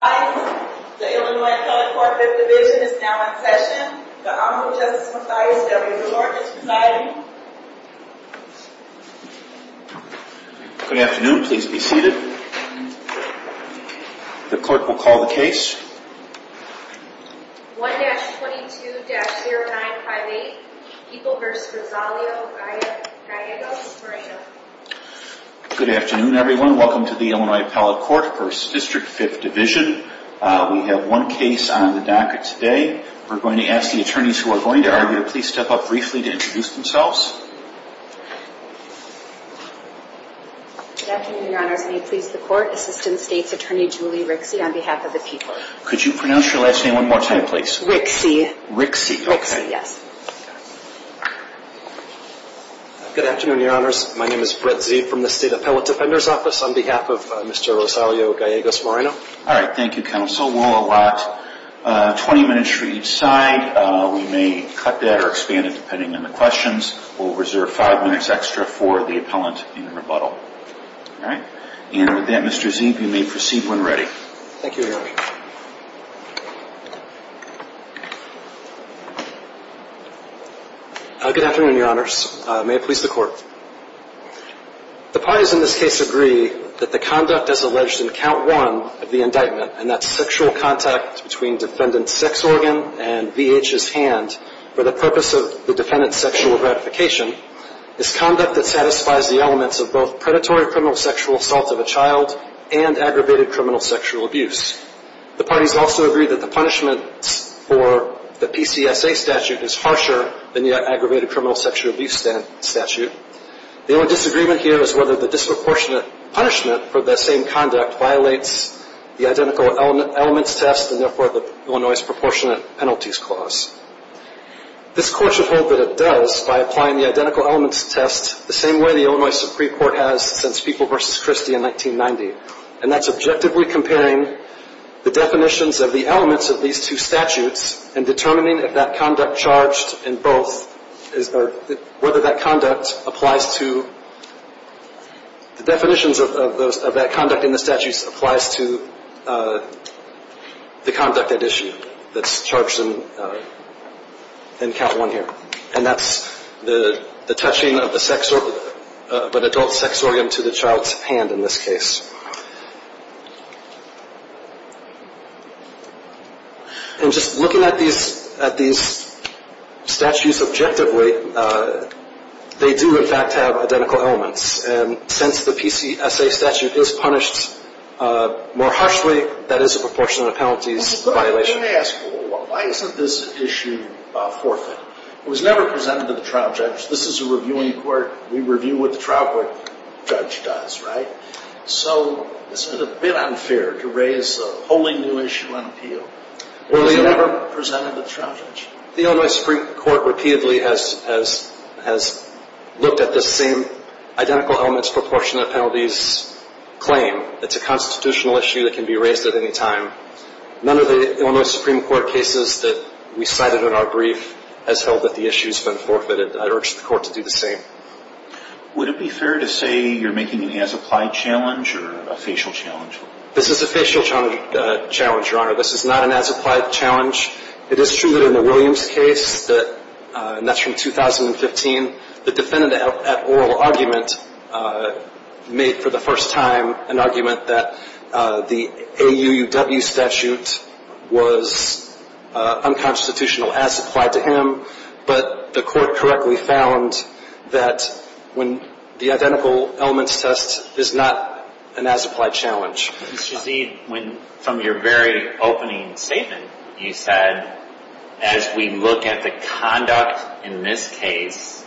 Good afternoon. The Illinois Appellate Court 5th Division is now in session. The Honorable Justice Mathias W. LaGorge is presiding. Good afternoon. Please be seated. The clerk will call the case. 1-22-0958, Heaple v. Rosalio Gallegos-Moreno. Good afternoon, everyone. Welcome to the Illinois Appellate Court v. District 5th Division. We have one case on the docket today. We're going to ask the attorneys who are going to argue to please step up briefly to introduce themselves. Good afternoon, Your Honors. May it please the Court, Assistant States Attorney Julie Rixey on behalf of the people. Could you pronounce your last name one more time, please? Rixey. Rixey, okay. Rixey, yes. Good afternoon, Your Honors. My name is Brett Zeeb from the State Appellate Defender's Office on behalf of Mr. Rosalio Gallegos-Moreno. All right. Thank you, Counsel. We'll allot 20 minutes for each side. We may cut that or expand it depending on the questions. We'll reserve five minutes extra for the appellant in rebuttal. All right? And with that, Mr. Zeeb, you may proceed when ready. Thank you, Your Honor. Good afternoon, Your Honors. May it please the Court. The parties in this case agree that the conduct as alleged in Count 1 of the indictment, and that sexual contact between defendant's sex organ and V.H.'s hand for the purpose of the defendant's sexual gratification, is conduct that satisfies the elements of both predatory criminal sexual assault of a child and aggravated criminal sexual abuse. The parties also agree that the punishment for the PCSA statute is harsher than the aggravated criminal sexual abuse statute. The only disagreement here is whether the disproportionate punishment for that same conduct violates the identical elements test and, therefore, the Illinois Proportionate Penalties Clause. This Court should hope that it does by applying the identical elements test the same way the Illinois Supreme Court has since People v. Christie in 1990, and that's objectively comparing the definitions of the elements of these two statutes and determining if that conduct charged in both, or whether that conduct applies to the definitions of that conduct in the statutes applies to the conduct at issue that's charged in Count 1 here. And that's the touching of an adult sex organ to the child's hand in this case. And just looking at these statutes objectively, they do, in fact, have identical elements. And since the PCSA statute is punished more harshly, that is a proportionate penalties violation. Let me ask, why isn't this issue forfeit? It was never presented to the trial judge. This is a reviewing court. We review what the trial court judge does, right? So isn't it a bit unfair to raise a wholly new issue on appeal? It was never presented to the trial judge. The Illinois Supreme Court repeatedly has looked at this same identical elements proportionate penalties claim. It's a constitutional issue that can be raised at any time. None of the Illinois Supreme Court cases that we cited in our brief has held that the issue's been forfeited. I'd urge the court to do the same. Would it be fair to say you're making an as-applied challenge or a facial challenge? This is a facial challenge, Your Honor. This is not an as-applied challenge. It is true that in the Williams case, and that's from 2015, the defendant at oral argument made for the first time an argument that the AUUW statute was unconstitutional as applied to him. But the court correctly found that when the identical elements test is not an as-applied challenge. Mr. Z, from your very opening statement, you said as we look at the conduct in this case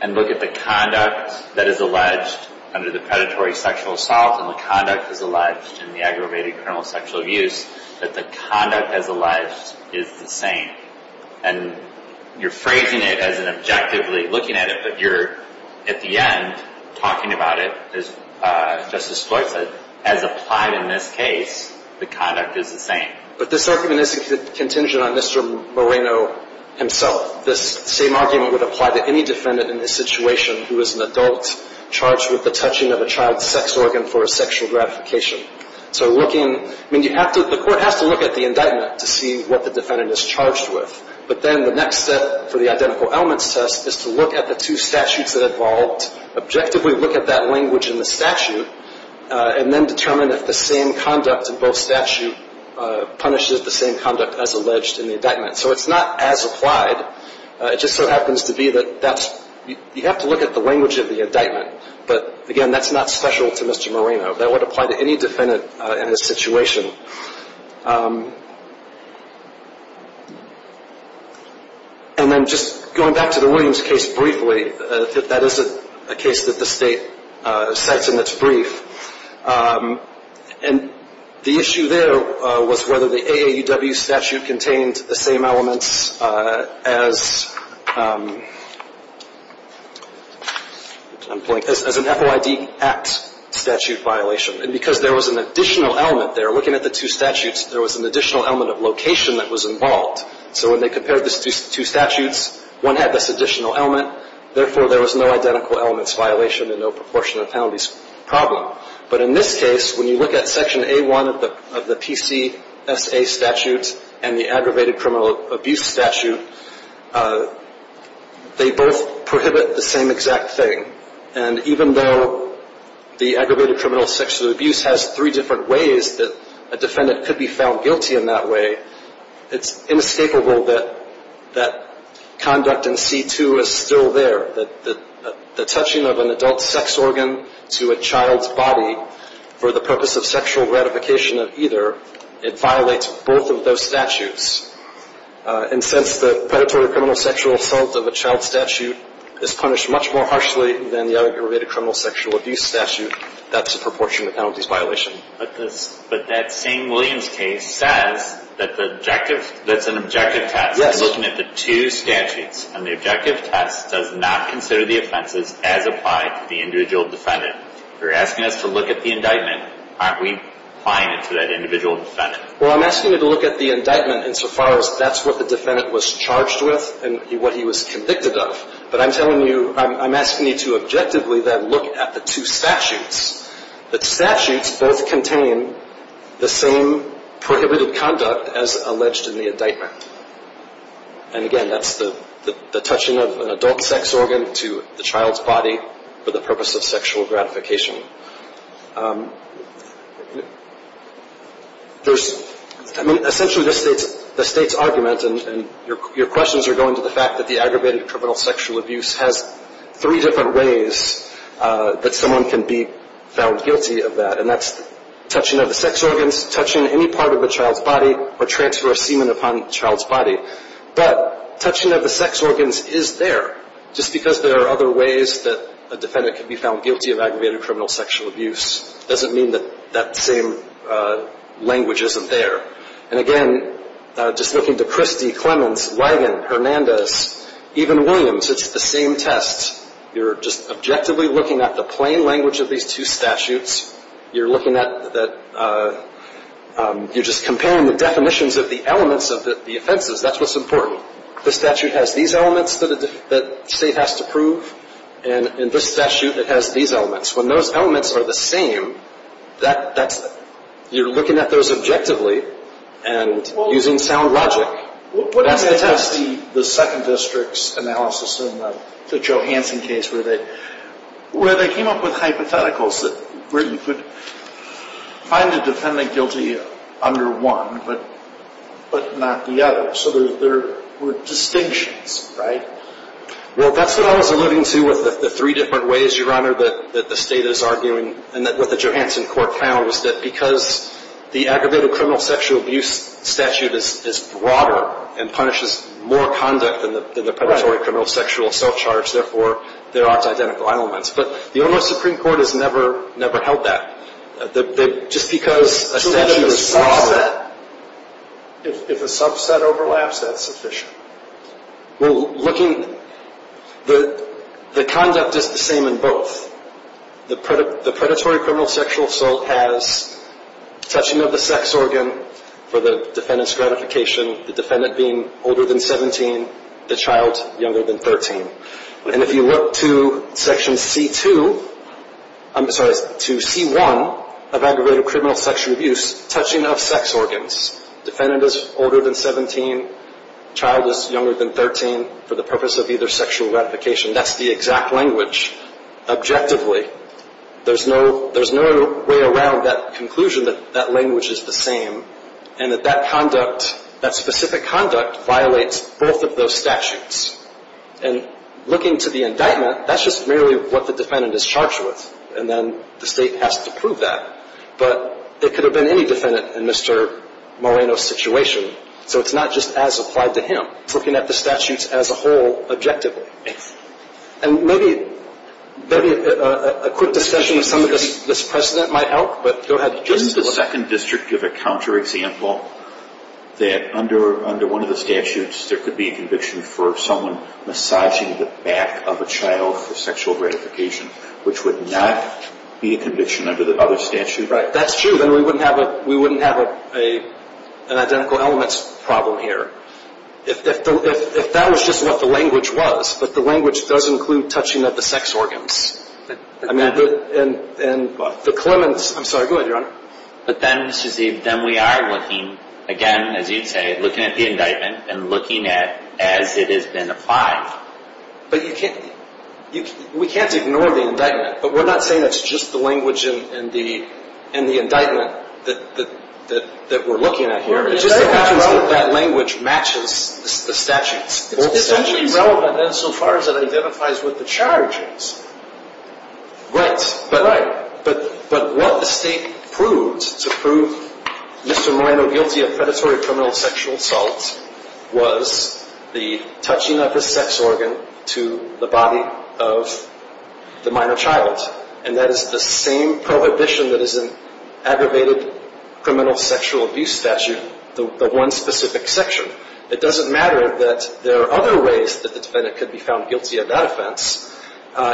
and look at the conduct that is alleged under the predatory sexual assault and the conduct as alleged in the aggravated criminal sexual abuse, that the conduct as alleged is the same. And you're phrasing it as an objectively looking at it, but you're at the end talking about it, as Justice Floyd said, as applied in this case, the conduct is the same. But this argument isn't contingent on Mr. Moreno himself. This same argument would apply to any defendant in this situation who is an adult charged with the touching of a child's sex organ for a sexual gratification. So looking, I mean, you have to, the court has to look at the indictment to see what the defendant is charged with. But then the next step for the identical elements test is to look at the two statutes that evolved, objectively look at that language in the statute, and then determine if the same conduct in both statutes punishes the same conduct as alleged in the indictment. So it's not as applied. It just so happens to be that that's, you have to look at the language of the indictment. But, again, that's not special to Mr. Moreno. That would apply to any defendant in this situation. And then just going back to the Williams case briefly, that is a case that the state cites in its brief. And the issue there was whether the AAUW statute contained the same elements as an FOID Act statute violation. And because there was an additional element there, looking at the two statutes, there was an additional element of location that was involved. So when they compared these two statutes, one had this additional element. Therefore, there was no identical elements violation and no proportion of penalties problem. But in this case, when you look at Section A1 of the PCSA statute and the aggravated criminal abuse statute, they both prohibit the same exact thing. And even though the aggravated criminal sexual abuse has three different ways that a defendant could be found guilty in that way, it's inescapable that conduct in C2 is still there. The touching of an adult sex organ to a child's body for the purpose of sexual gratification of either, it violates both of those statutes. And since the predatory criminal sexual assault of a child statute is punished much more harshly than the other aggravated criminal sexual abuse statute, that's a proportion of penalties violation. But that same Williams case says that the objective, that's an objective test. Yes. Looking at the two statutes, and the objective test does not consider the offenses as applied to the individual defendant. You're asking us to look at the indictment. Aren't we applying it to that individual defendant? Well, I'm asking you to look at the indictment insofar as that's what the defendant was charged with and what he was convicted of. But I'm telling you, I'm asking you to objectively then look at the two statutes. The statutes both contain the same prohibited conduct as alleged in the indictment. And again, that's the touching of an adult sex organ to the child's body for the purpose of sexual gratification. There's, I mean, essentially the state's argument and your questions are going to the fact that the aggravated criminal sexual abuse has three different ways that someone can be found guilty of that. And that's touching of the sex organs, touching any part of the child's body, or transfer of semen upon the child's body. But touching of the sex organs is there just because there are other ways that a defendant can be found guilty of aggravated criminal sexual abuse. It doesn't mean that that same language isn't there. And again, just looking to Christie, Clemens, Ligon, Hernandez, even Williams, it's the same test. You're just objectively looking at the plain language of these two statutes. You're looking at that you're just comparing the definitions of the elements of the offenses. That's what's important. The statute has these elements that the state has to prove. And in this statute, it has these elements. When those elements are the same, you're looking at those objectively and using sound logic. That's the test. The second district's analysis in the Johansson case where they came up with hypotheticals where you could find a defendant guilty under one but not the other. So there were distinctions, right? Well, that's what I was alluding to with the three different ways, Your Honor, that the state is arguing and that what the Johansson court found was that because the aggravated criminal sexual abuse statute is broader and punishes more conduct than the predatory criminal sexual self-charge, therefore, there aren't identical elements. But the Illinois Supreme Court has never held that. Just because a statute is broader. If a subset overlaps, that's sufficient. Well, looking, the conduct is the same in both. The predatory criminal sexual assault has touching of the sex organ for the defendant's gratification, the defendant being older than 17, the child younger than 13. And if you look to Section C2, I'm sorry, to C1 of aggravated criminal sexual abuse, touching of sex organs. Defendant is older than 17, child is younger than 13 for the purpose of either sexual gratification. That's the exact language, objectively. There's no way around that conclusion that that language is the same and that that conduct, that specific conduct, violates both of those statutes. And looking to the indictment, that's just merely what the defendant is charged with. And then the state has to prove that. But it could have been any defendant in Mr. Moreno's situation. So it's not just as applied to him. It's looking at the statutes as a whole, objectively. And maybe a quick discussion of some of this precedent might help, but go ahead. Doesn't the Second District give a counterexample that under one of the statutes, there could be a conviction for someone massaging the back of a child for sexual gratification, which would not be a conviction under the other statute? Right, that's true. Then we wouldn't have an identical elements problem here. If that was just what the language was, but the language does include touching of the sex organs. I mean, the Clemens, I'm sorry, go ahead, Your Honor. But then, Mr. Zeeb, then we are looking, again, as you'd say, looking at the indictment and looking at as it has been applied. But we can't ignore the indictment. But we're not saying it's just the language in the indictment that we're looking at here. It's just that that language matches the statutes. It's only relevant insofar as it identifies with the charges. Right. But what the state proved to prove Mr. Moreno guilty of predatory criminal sexual assault was the touching of the sex organ to the body of the minor child. And that is the same prohibition that is in aggravated criminal sexual abuse statute, the one specific section. It doesn't matter that there are other ways that the defendant could be found guilty of that offense.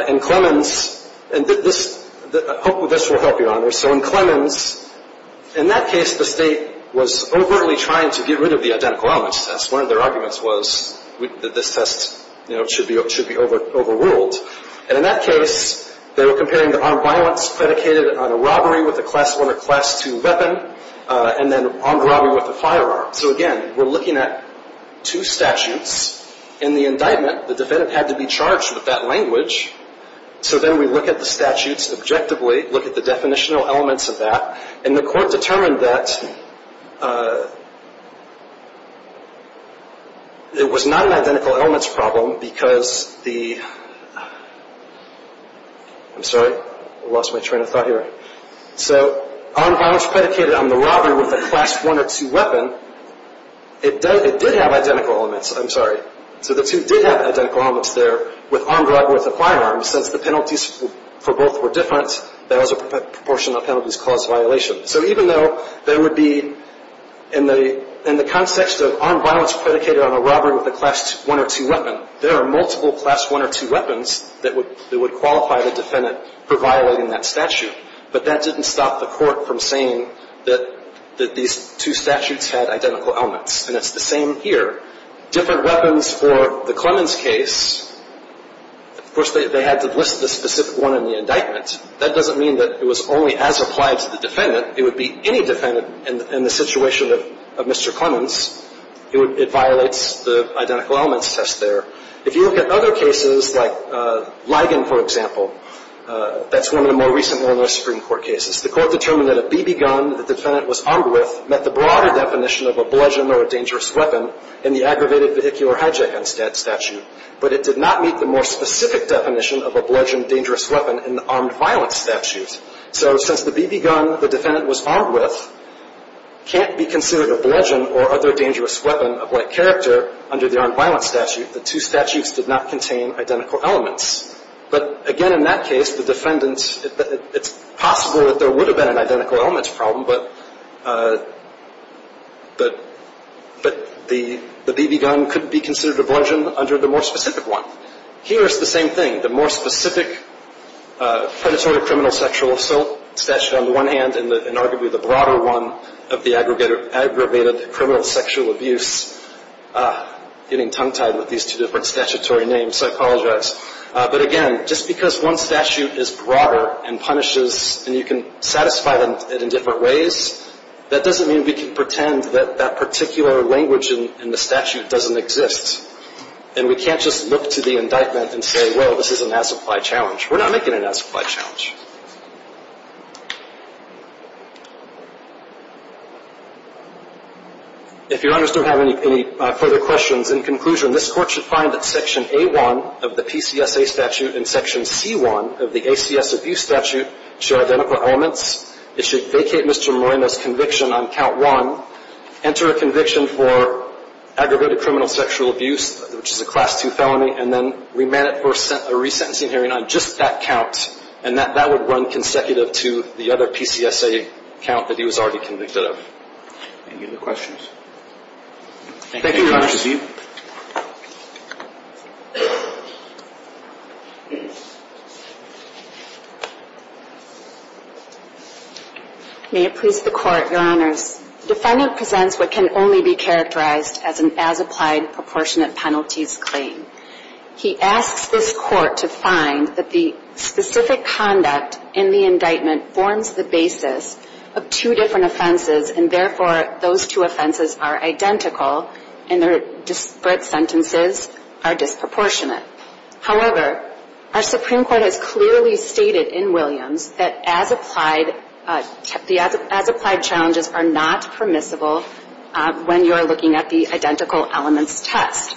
In Clemens, and this will help you, Your Honor. So in Clemens, in that case, the state was overtly trying to get rid of the identical elements test. One of their arguments was that this test should be overruled. And in that case, they were comparing the armed violence predicated on a robbery with a Class I or Class II weapon and then armed robbery with a firearm. So, again, we're looking at two statutes. In the indictment, the defendant had to be charged with that language. So then we look at the statutes objectively, look at the definitional elements of that, and the court determined that it was not an identical elements problem because the – I'm sorry. I lost my train of thought here. So armed violence predicated on the robbery with a Class I or II weapon, it did have identical elements. I'm sorry. So the two did have identical elements there with armed robbery with a firearm. Since the penalties for both were different, those proportional penalties caused violation. So even though there would be – in the context of armed violence predicated on a robbery with a Class I or II weapon, there are multiple Class I or II weapons that would qualify the defendant for violating that statute. But that didn't stop the court from saying that these two statutes had identical elements. And it's the same here. Different weapons for the Clemens case – of course, they had to list the specific one in the indictment. That doesn't mean that it was only as applied to the defendant. It would be any defendant in the situation of Mr. Clemens. It violates the identical elements test there. If you look at other cases like Ligon, for example, that's one of the more recent Illinois Supreme Court cases, the court determined that a BB gun the defendant was armed with met the broader definition of a bludgeon or a dangerous weapon in the aggravated vehicular hijacking statute. But it did not meet the more specific definition of a bludgeon, dangerous weapon in the armed violence statute. So since the BB gun the defendant was armed with can't be considered a bludgeon or other dangerous weapon of like character under the armed violence statute, the two statutes did not contain identical elements. But, again, in that case, the defendant – it's possible that there would have been an identical elements problem, but the BB gun couldn't be considered a bludgeon under the more specific one. Here is the same thing. The more specific predatory criminal sexual assault statute on the one hand and arguably the broader one of the aggravated criminal sexual abuse – getting tongue-tied with these two different statutory names, so I apologize. But, again, just because one statute is broader and punishes and you can satisfy it in different ways, that doesn't mean we can pretend that that particular language in the statute doesn't exist. And we can't just look to the indictment and say, well, this is an as-applied challenge. We're not making an as-applied challenge. If your honors don't have any further questions, in conclusion, this Court should find that Section A-1 of the PCSA statute and Section C-1 of the ACS abuse statute share identical elements. It should vacate Mr. Moreno's conviction on count one, enter a conviction for aggravated criminal sexual abuse, which is a Class II felony, and then remand it for a resentencing hearing on just that count. And that would run consecutive to the other PCSA count that he was already convicted of. Any other questions? Thank you, Your Honors. Ms. Eve. May it please the Court, Your Honors. The defendant presents what can only be characterized as an as-applied proportionate penalties claim. He asks this Court to find that the specific conduct in the indictment forms the basis of two different offenses, and therefore those two offenses are identical and their disparate sentences are disproportionate. However, our Supreme Court has clearly stated in Williams that as-applied challenges are not permissible when you're looking at the identical elements test.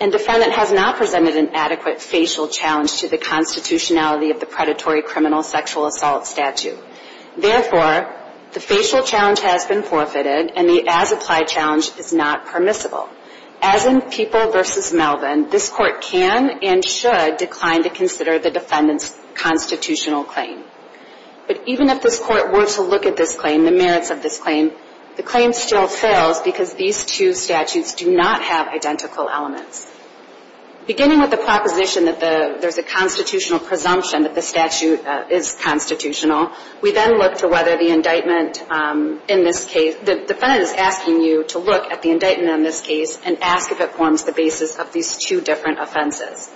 And defendant has not presented an adequate facial challenge to the constitutionality of the predatory criminal sexual assault statute. Therefore, the facial challenge has been forfeited and the as-applied challenge is not permissible. As in People v. Melvin, this Court can and should decline to consider the defendant's constitutional claim. But even if this Court were to look at this claim, the merits of this claim, the claim still fails because these two statutes do not have identical elements. Beginning with the proposition that there's a constitutional presumption that the statute is constitutional, we then look to whether the indictment in this case, the defendant is asking you to look at the indictment in this case and ask if it forms the basis of these two different offenses.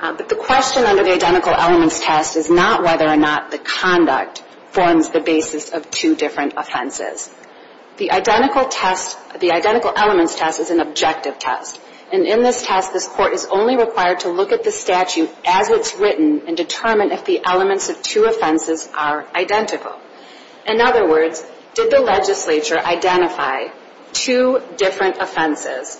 But the question under the identical elements test is not whether or not the conduct forms the basis of two different offenses. The identical test, the identical elements test is an objective test. And in this test, this Court is only required to look at the statute as it's written and determine if the elements of two offenses are identical. In other words, did the legislature identify two different offenses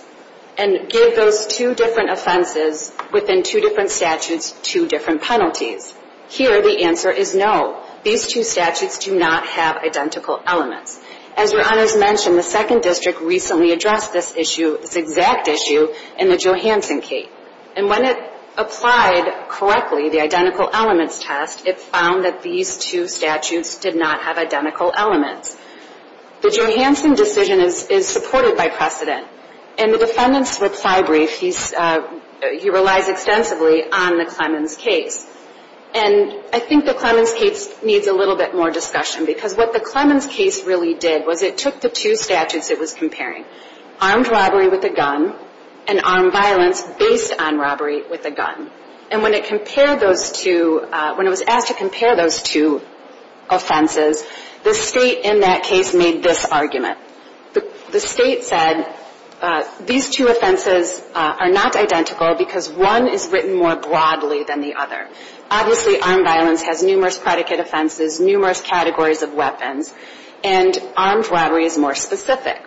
and give those two different offenses within two different statutes two different penalties? Here, the answer is no. These two statutes do not have identical elements. As Your Honors mentioned, the Second District recently addressed this issue, this exact issue, in the Johanson case. And when it applied correctly, the identical elements test, it found that these two statutes did not have identical elements. The Johanson decision is supported by precedent. In the defendant's reply brief, he relies extensively on the Clemens case. And I think the Clemens case needs a little bit more discussion because what the Clemens case really did was it took the two statutes it was comparing, armed robbery with a gun and armed violence based on robbery with a gun. And when it compared those two, when it was asked to compare those two offenses, the State in that case made this argument. The State said these two offenses are not identical because one is written more broadly than the other. Obviously, armed violence has numerous predicate offenses, numerous categories of weapons, and armed robbery is more specific.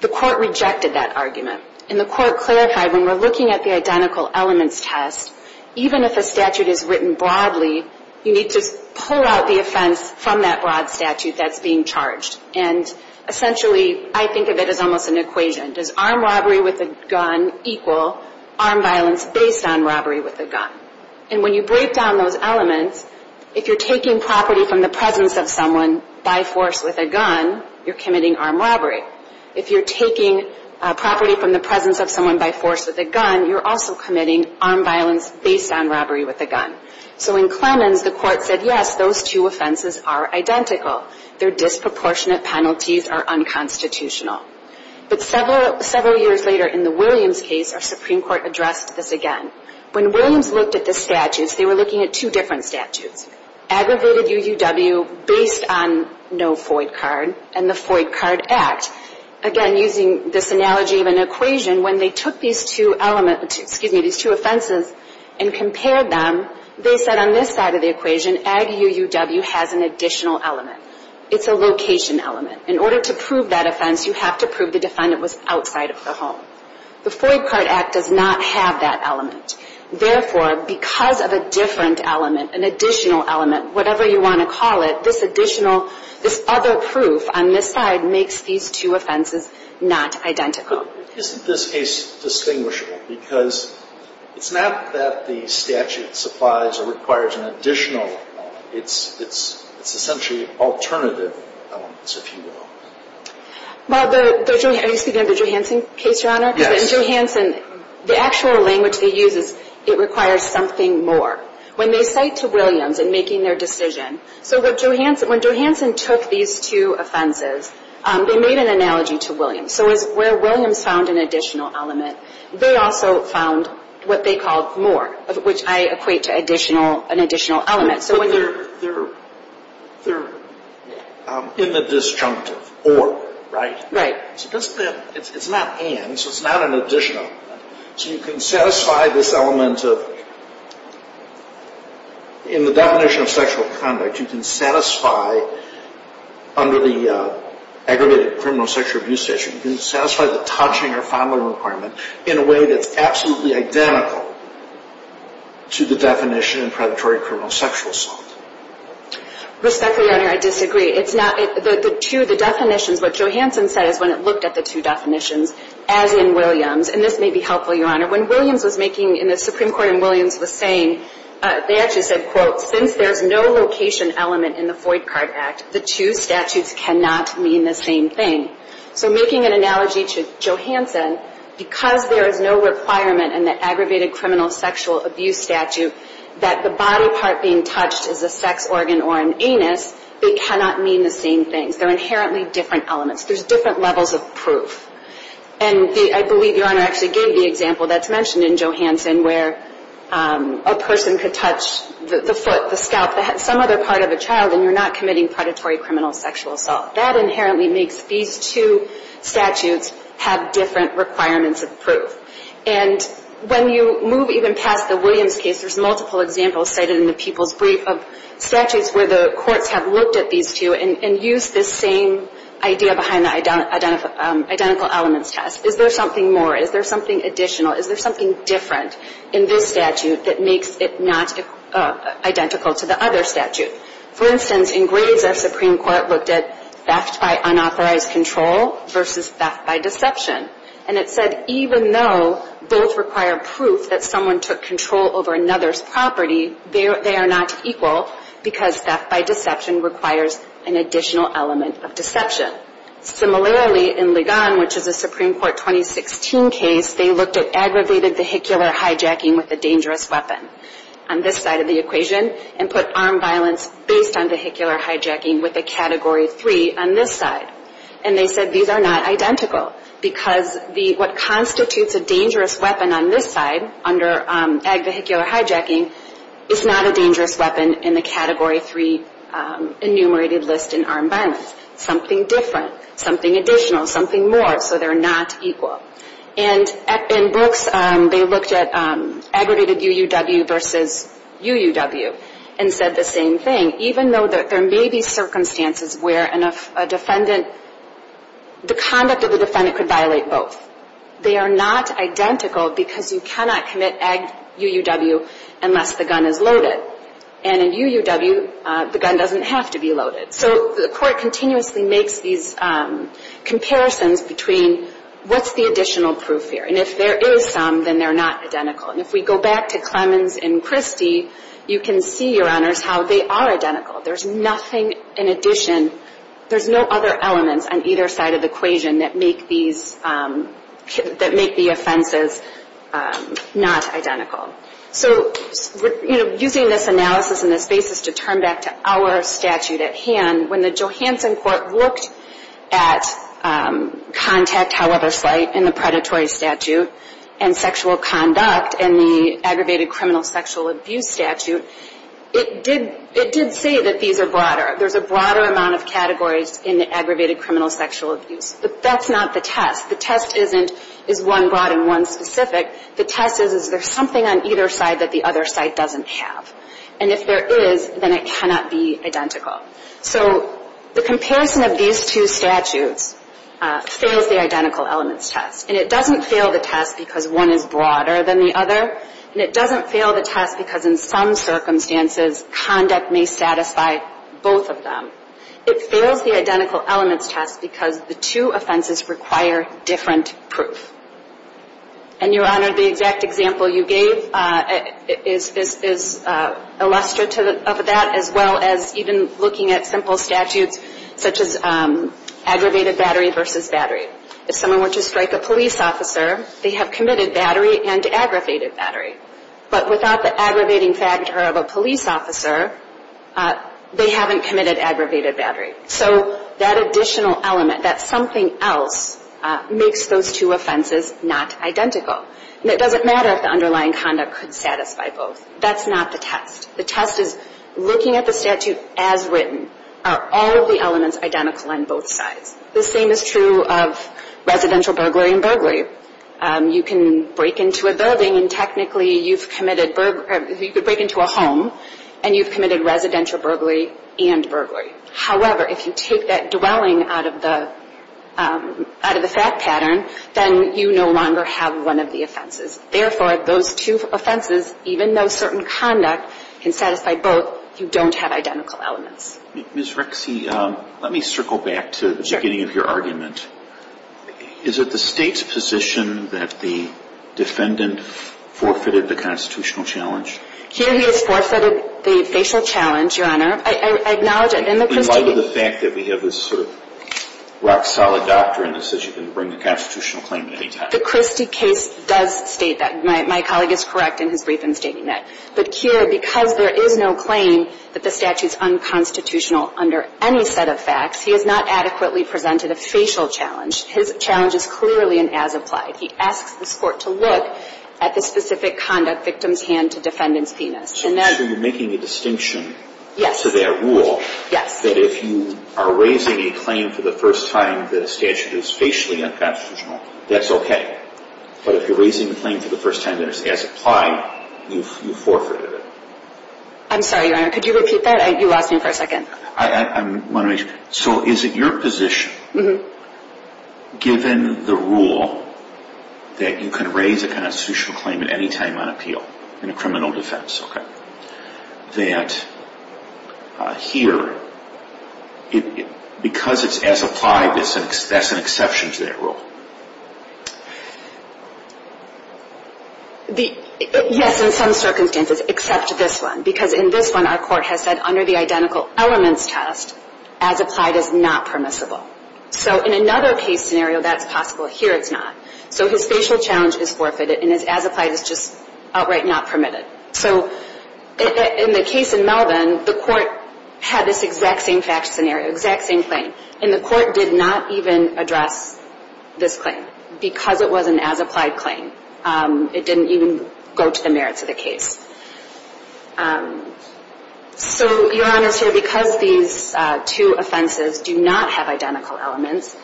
The Court rejected that argument. And the Court clarified when we're looking at the identical elements test, even if a statute is written broadly, you need to pull out the offense from that broad statute that's being charged. And essentially, I think of it as almost an equation. Does armed robbery with a gun equal armed violence based on robbery with a gun? And when you break down those elements, if you're taking property from the presence of someone by force with a gun, you're committing armed robbery. If you're taking property from the presence of someone by force with a gun, you're also committing armed violence based on robbery with a gun. So in Clemens, the Court said, yes, those two offenses are identical. Their disproportionate penalties are unconstitutional. But several years later in the Williams case, our Supreme Court addressed this again. When Williams looked at the statutes, they were looking at two different statutes, aggravated UUW based on no FOID card and the FOID card act. Again, using this analogy of an equation, when they took these two offenses and compared them, they said on this side of the equation, ag UUW has an additional element. It's a location element. In order to prove that offense, you have to prove the defendant was outside of the home. The FOID card act does not have that element. Therefore, because of a different element, an additional element, whatever you want to call it, this additional, this other proof on this side makes these two offenses not identical. Isn't this case distinguishable? Because it's not that the statute supplies or requires an additional element. It's essentially alternative elements, if you will. Are you speaking of the Johansson case, Your Honor? Yes. In Johansson, the actual language they use is it requires something more. When they cite to Williams in making their decision, so when Johansson took these two offenses, they made an analogy to Williams. So where Williams found an additional element, they also found what they called more, which I equate to an additional element. But they're in the disjunctive, or, right? Right. It's not an, so it's not an additional. So you can satisfy this element of, in the definition of sexual conduct, you can satisfy under the aggravated criminal sexual abuse statute, you can satisfy the touching or fondling requirement in a way that's absolutely identical to the definition of predatory criminal sexual assault. Respectfully, Your Honor, I disagree. It's not, the two, the definitions, what Johansson said is when it looked at the two definitions, as in Williams, and this may be helpful, Your Honor. When Williams was making, in the Supreme Court, and Williams was saying, they actually said, quote, since there's no location element in the Foyt Card Act, the two statutes cannot mean the same thing. So making an analogy to Johansson, because there is no requirement in the aggravated criminal sexual abuse statute that the body part being touched is a sex organ or an anus, they cannot mean the same thing. They're inherently different elements. There's different levels of proof. And I believe Your Honor actually gave the example that's mentioned in Johansson, where a person could touch the foot, the scalp, some other part of a child, and you're not committing predatory criminal sexual assault. That inherently makes these two statutes have different requirements of proof. And when you move even past the Williams case, there's multiple examples cited in the people's brief of statutes where the courts have looked at these two and used this same idea behind the identical elements test. Is there something more? Is there something additional? Is there something different in this statute that makes it not identical to the other statute? For instance, in Graves, our Supreme Court looked at theft by unauthorized control versus theft by deception. And it said even though both require proof that someone took control over another's property, they are not equal because theft by deception requires an additional element of deception. Similarly, in Ligon, which is a Supreme Court 2016 case, they looked at aggravated vehicular hijacking with a dangerous weapon on this side of the equation and put armed violence based on vehicular hijacking with a Category 3 on this side. And they said these are not identical because what constitutes a dangerous weapon on this side under ag vehicular hijacking is not a dangerous weapon in the Category 3 enumerated list in armed violence. Something different. Something additional. Something more. So they're not equal. And in Brooks, they looked at aggravated UUW versus UUW and said the same thing. Even though there may be circumstances where a defendant, the conduct of the defendant could violate both. They are not identical because you cannot commit ag UUW unless the gun is loaded. And in UUW, the gun doesn't have to be loaded. So the Court continuously makes these comparisons between what's the additional proof here. And if there is some, then they're not identical. And if we go back to Clemens and Christie, you can see, Your Honors, how they are identical. There's nothing in addition. There's no other elements on either side of the equation that make these, that make the offenses not identical. So, you know, using this analysis and this basis to turn back to our statute at hand, when the Johanson Court looked at contact, however slight, in the predatory statute, and sexual conduct in the aggravated criminal sexual abuse statute, it did say that these are broader. There's a broader amount of categories in the aggravated criminal sexual abuse. But that's not the test. The test isn't, is one broad and one specific? The test is, is there something on either side that the other side doesn't have? And if there is, then it cannot be identical. So the comparison of these two statutes fails the identical elements test. And it doesn't fail the test because one is broader than the other. And it doesn't fail the test because in some circumstances conduct may satisfy both of them. It fails the identical elements test because the two offenses require different proof. And, Your Honor, the exact example you gave is illustrative of that, as well as even looking at simple statutes such as aggravated battery versus battery. If someone were to strike a police officer, they have committed battery and aggravated battery. But without the aggravating factor of a police officer, they haven't committed aggravated battery. So that additional element, that something else, makes those two offenses not identical. And it doesn't matter if the underlying conduct could satisfy both. That's not the test. The test is looking at the statute as written. Are all of the elements identical on both sides? The same is true of residential burglary and burglary. You can break into a building and technically you've committed, you could break into a home, and you've committed residential burglary and burglary. However, if you take that dwelling out of the fact pattern, then you no longer have one of the offenses. Therefore, those two offenses, even though certain conduct can satisfy both, you don't have identical elements. Ms. Rexy, let me circle back to the beginning of your argument. Is it the State's position that the defendant forfeited the constitutional challenge? Here he has forfeited the facial challenge, Your Honor. I acknowledge it. And the Christie case… And what of the fact that we have this sort of rock-solid doctrine that says you can bring the constitutional claim at any time? The Christie case does state that. My colleague is correct in his brief in stating that. But here, because there is no claim that the statute is unconstitutional under any set of facts, he has not adequately presented a facial challenge. His challenge is clearly an as-applied. He asks this Court to look at the specific conduct victim's hand to defendant's penis. So you're making a distinction. Yes. To that rule. Yes. That if you are raising a claim for the first time that a statute is facially unconstitutional, that's okay. But if you're raising a claim for the first time that it's as-applied, you've forfeited it. I'm sorry, Your Honor. Could you repeat that? You lost me for a second. I want to make sure. So is it your position, given the rule that you can raise a constitutional claim at any time on appeal in a criminal defense, that here, because it's as-applied, that's an exception to that rule? Yes, in some circumstances, except this one. Because in this one, our Court has said under the identical elements test, as-applied is not permissible. So in another case scenario, that's possible. Here, it's not. So his facial challenge is forfeited, and his as-applied is just outright not permitted. So in the case in Melvin, the Court had this exact same fact scenario, exact same claim, and the Court did not even address this claim because it was an as-applied claim. It didn't even go to the merits of the case. So, Your Honor, because these two offenses do not have identical elements,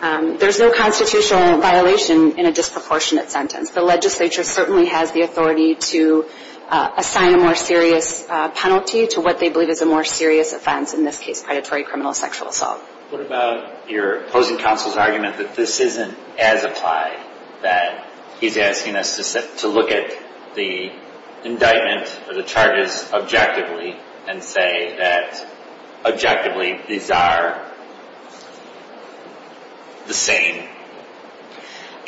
there's no constitutional violation in a disproportionate sentence. The legislature certainly has the authority to assign a more serious penalty to what they believe is a more serious offense, in this case, predatory criminal sexual assault. What about your opposing counsel's argument that this isn't as-applied, that he's asking us to look at the indictment or the charges objectively and say that, objectively, these are the same?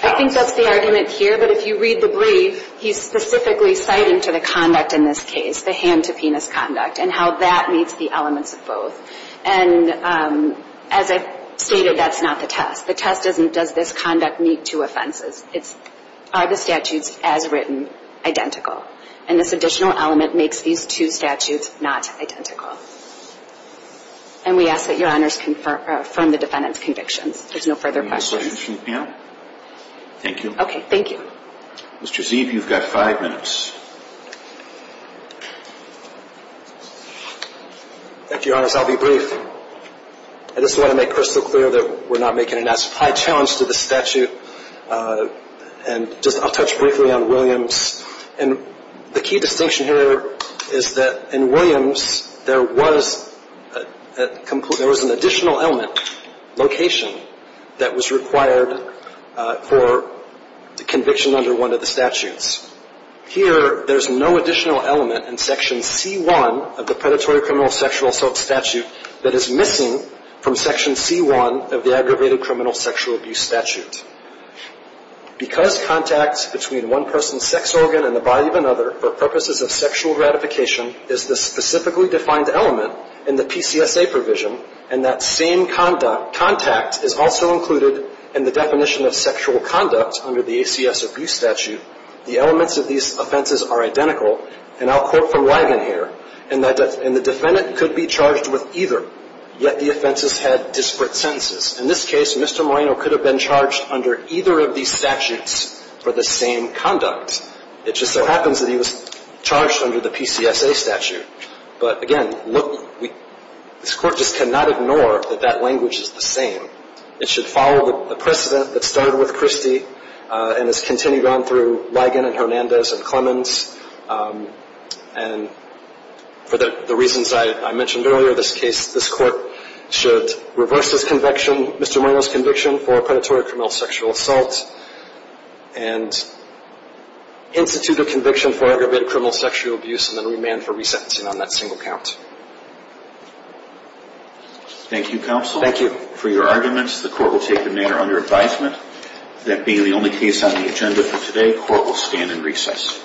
I think that's the argument here. But if you read the brief, he's specifically citing to the conduct in this case, the hand-to-penis conduct, and how that meets the elements of both. And as I've stated, that's not the test. The test isn't, does this conduct meet two offenses? It's, are the statutes as written identical? And this additional element makes these two statutes not identical. And we ask that Your Honors confirm the defendant's convictions. There's no further questions. Any other questions from the panel? Thank you. Okay, thank you. Mr. Zieve, you've got five minutes. Thank you, Your Honors. I'll be brief. I just want to make crystal clear that we're not making an as-applied challenge to the statute. And just, I'll touch briefly on Williams. And the key distinction here is that in Williams, there was a, there was an additional element, location, that was required for the conviction under one of the statutes. Here, there's no additional element in Section C-1 of the Predatory Criminal Sexual Assault Statute that is missing from Section C-1 of the Aggravated Criminal Sexual Abuse Statute. Because contact between one person's sex organ and the body of another for purposes of sexual gratification is the specifically defined element in the PCSA provision, and that same contact is also included in the definition of sexual conduct under the ACS Abuse Statute, the elements of these offenses are identical. And I'll quote from Wagon here, and the defendant could be charged with either, yet the offenses had disparate sentences. In this case, Mr. Moreno could have been charged under either of these statutes for the same conduct. It just so happens that he was charged under the PCSA statute. But again, look, this Court just cannot ignore that that language is the same. It should follow the precedent that started with Christie and has continued on through Ligon and Hernandez and Clemens. And for the reasons I mentioned earlier, this case, this Court should reverse this conviction, Mr. Moreno's conviction for predatory criminal sexual assault, and institute a conviction for aggravated criminal sexual abuse and then remand for resentencing on that single count. Thank you, Counsel. Thank you. For your arguments, the Court will take the matter under advisement that being the only case on the agenda for today, the Court will stand in recess.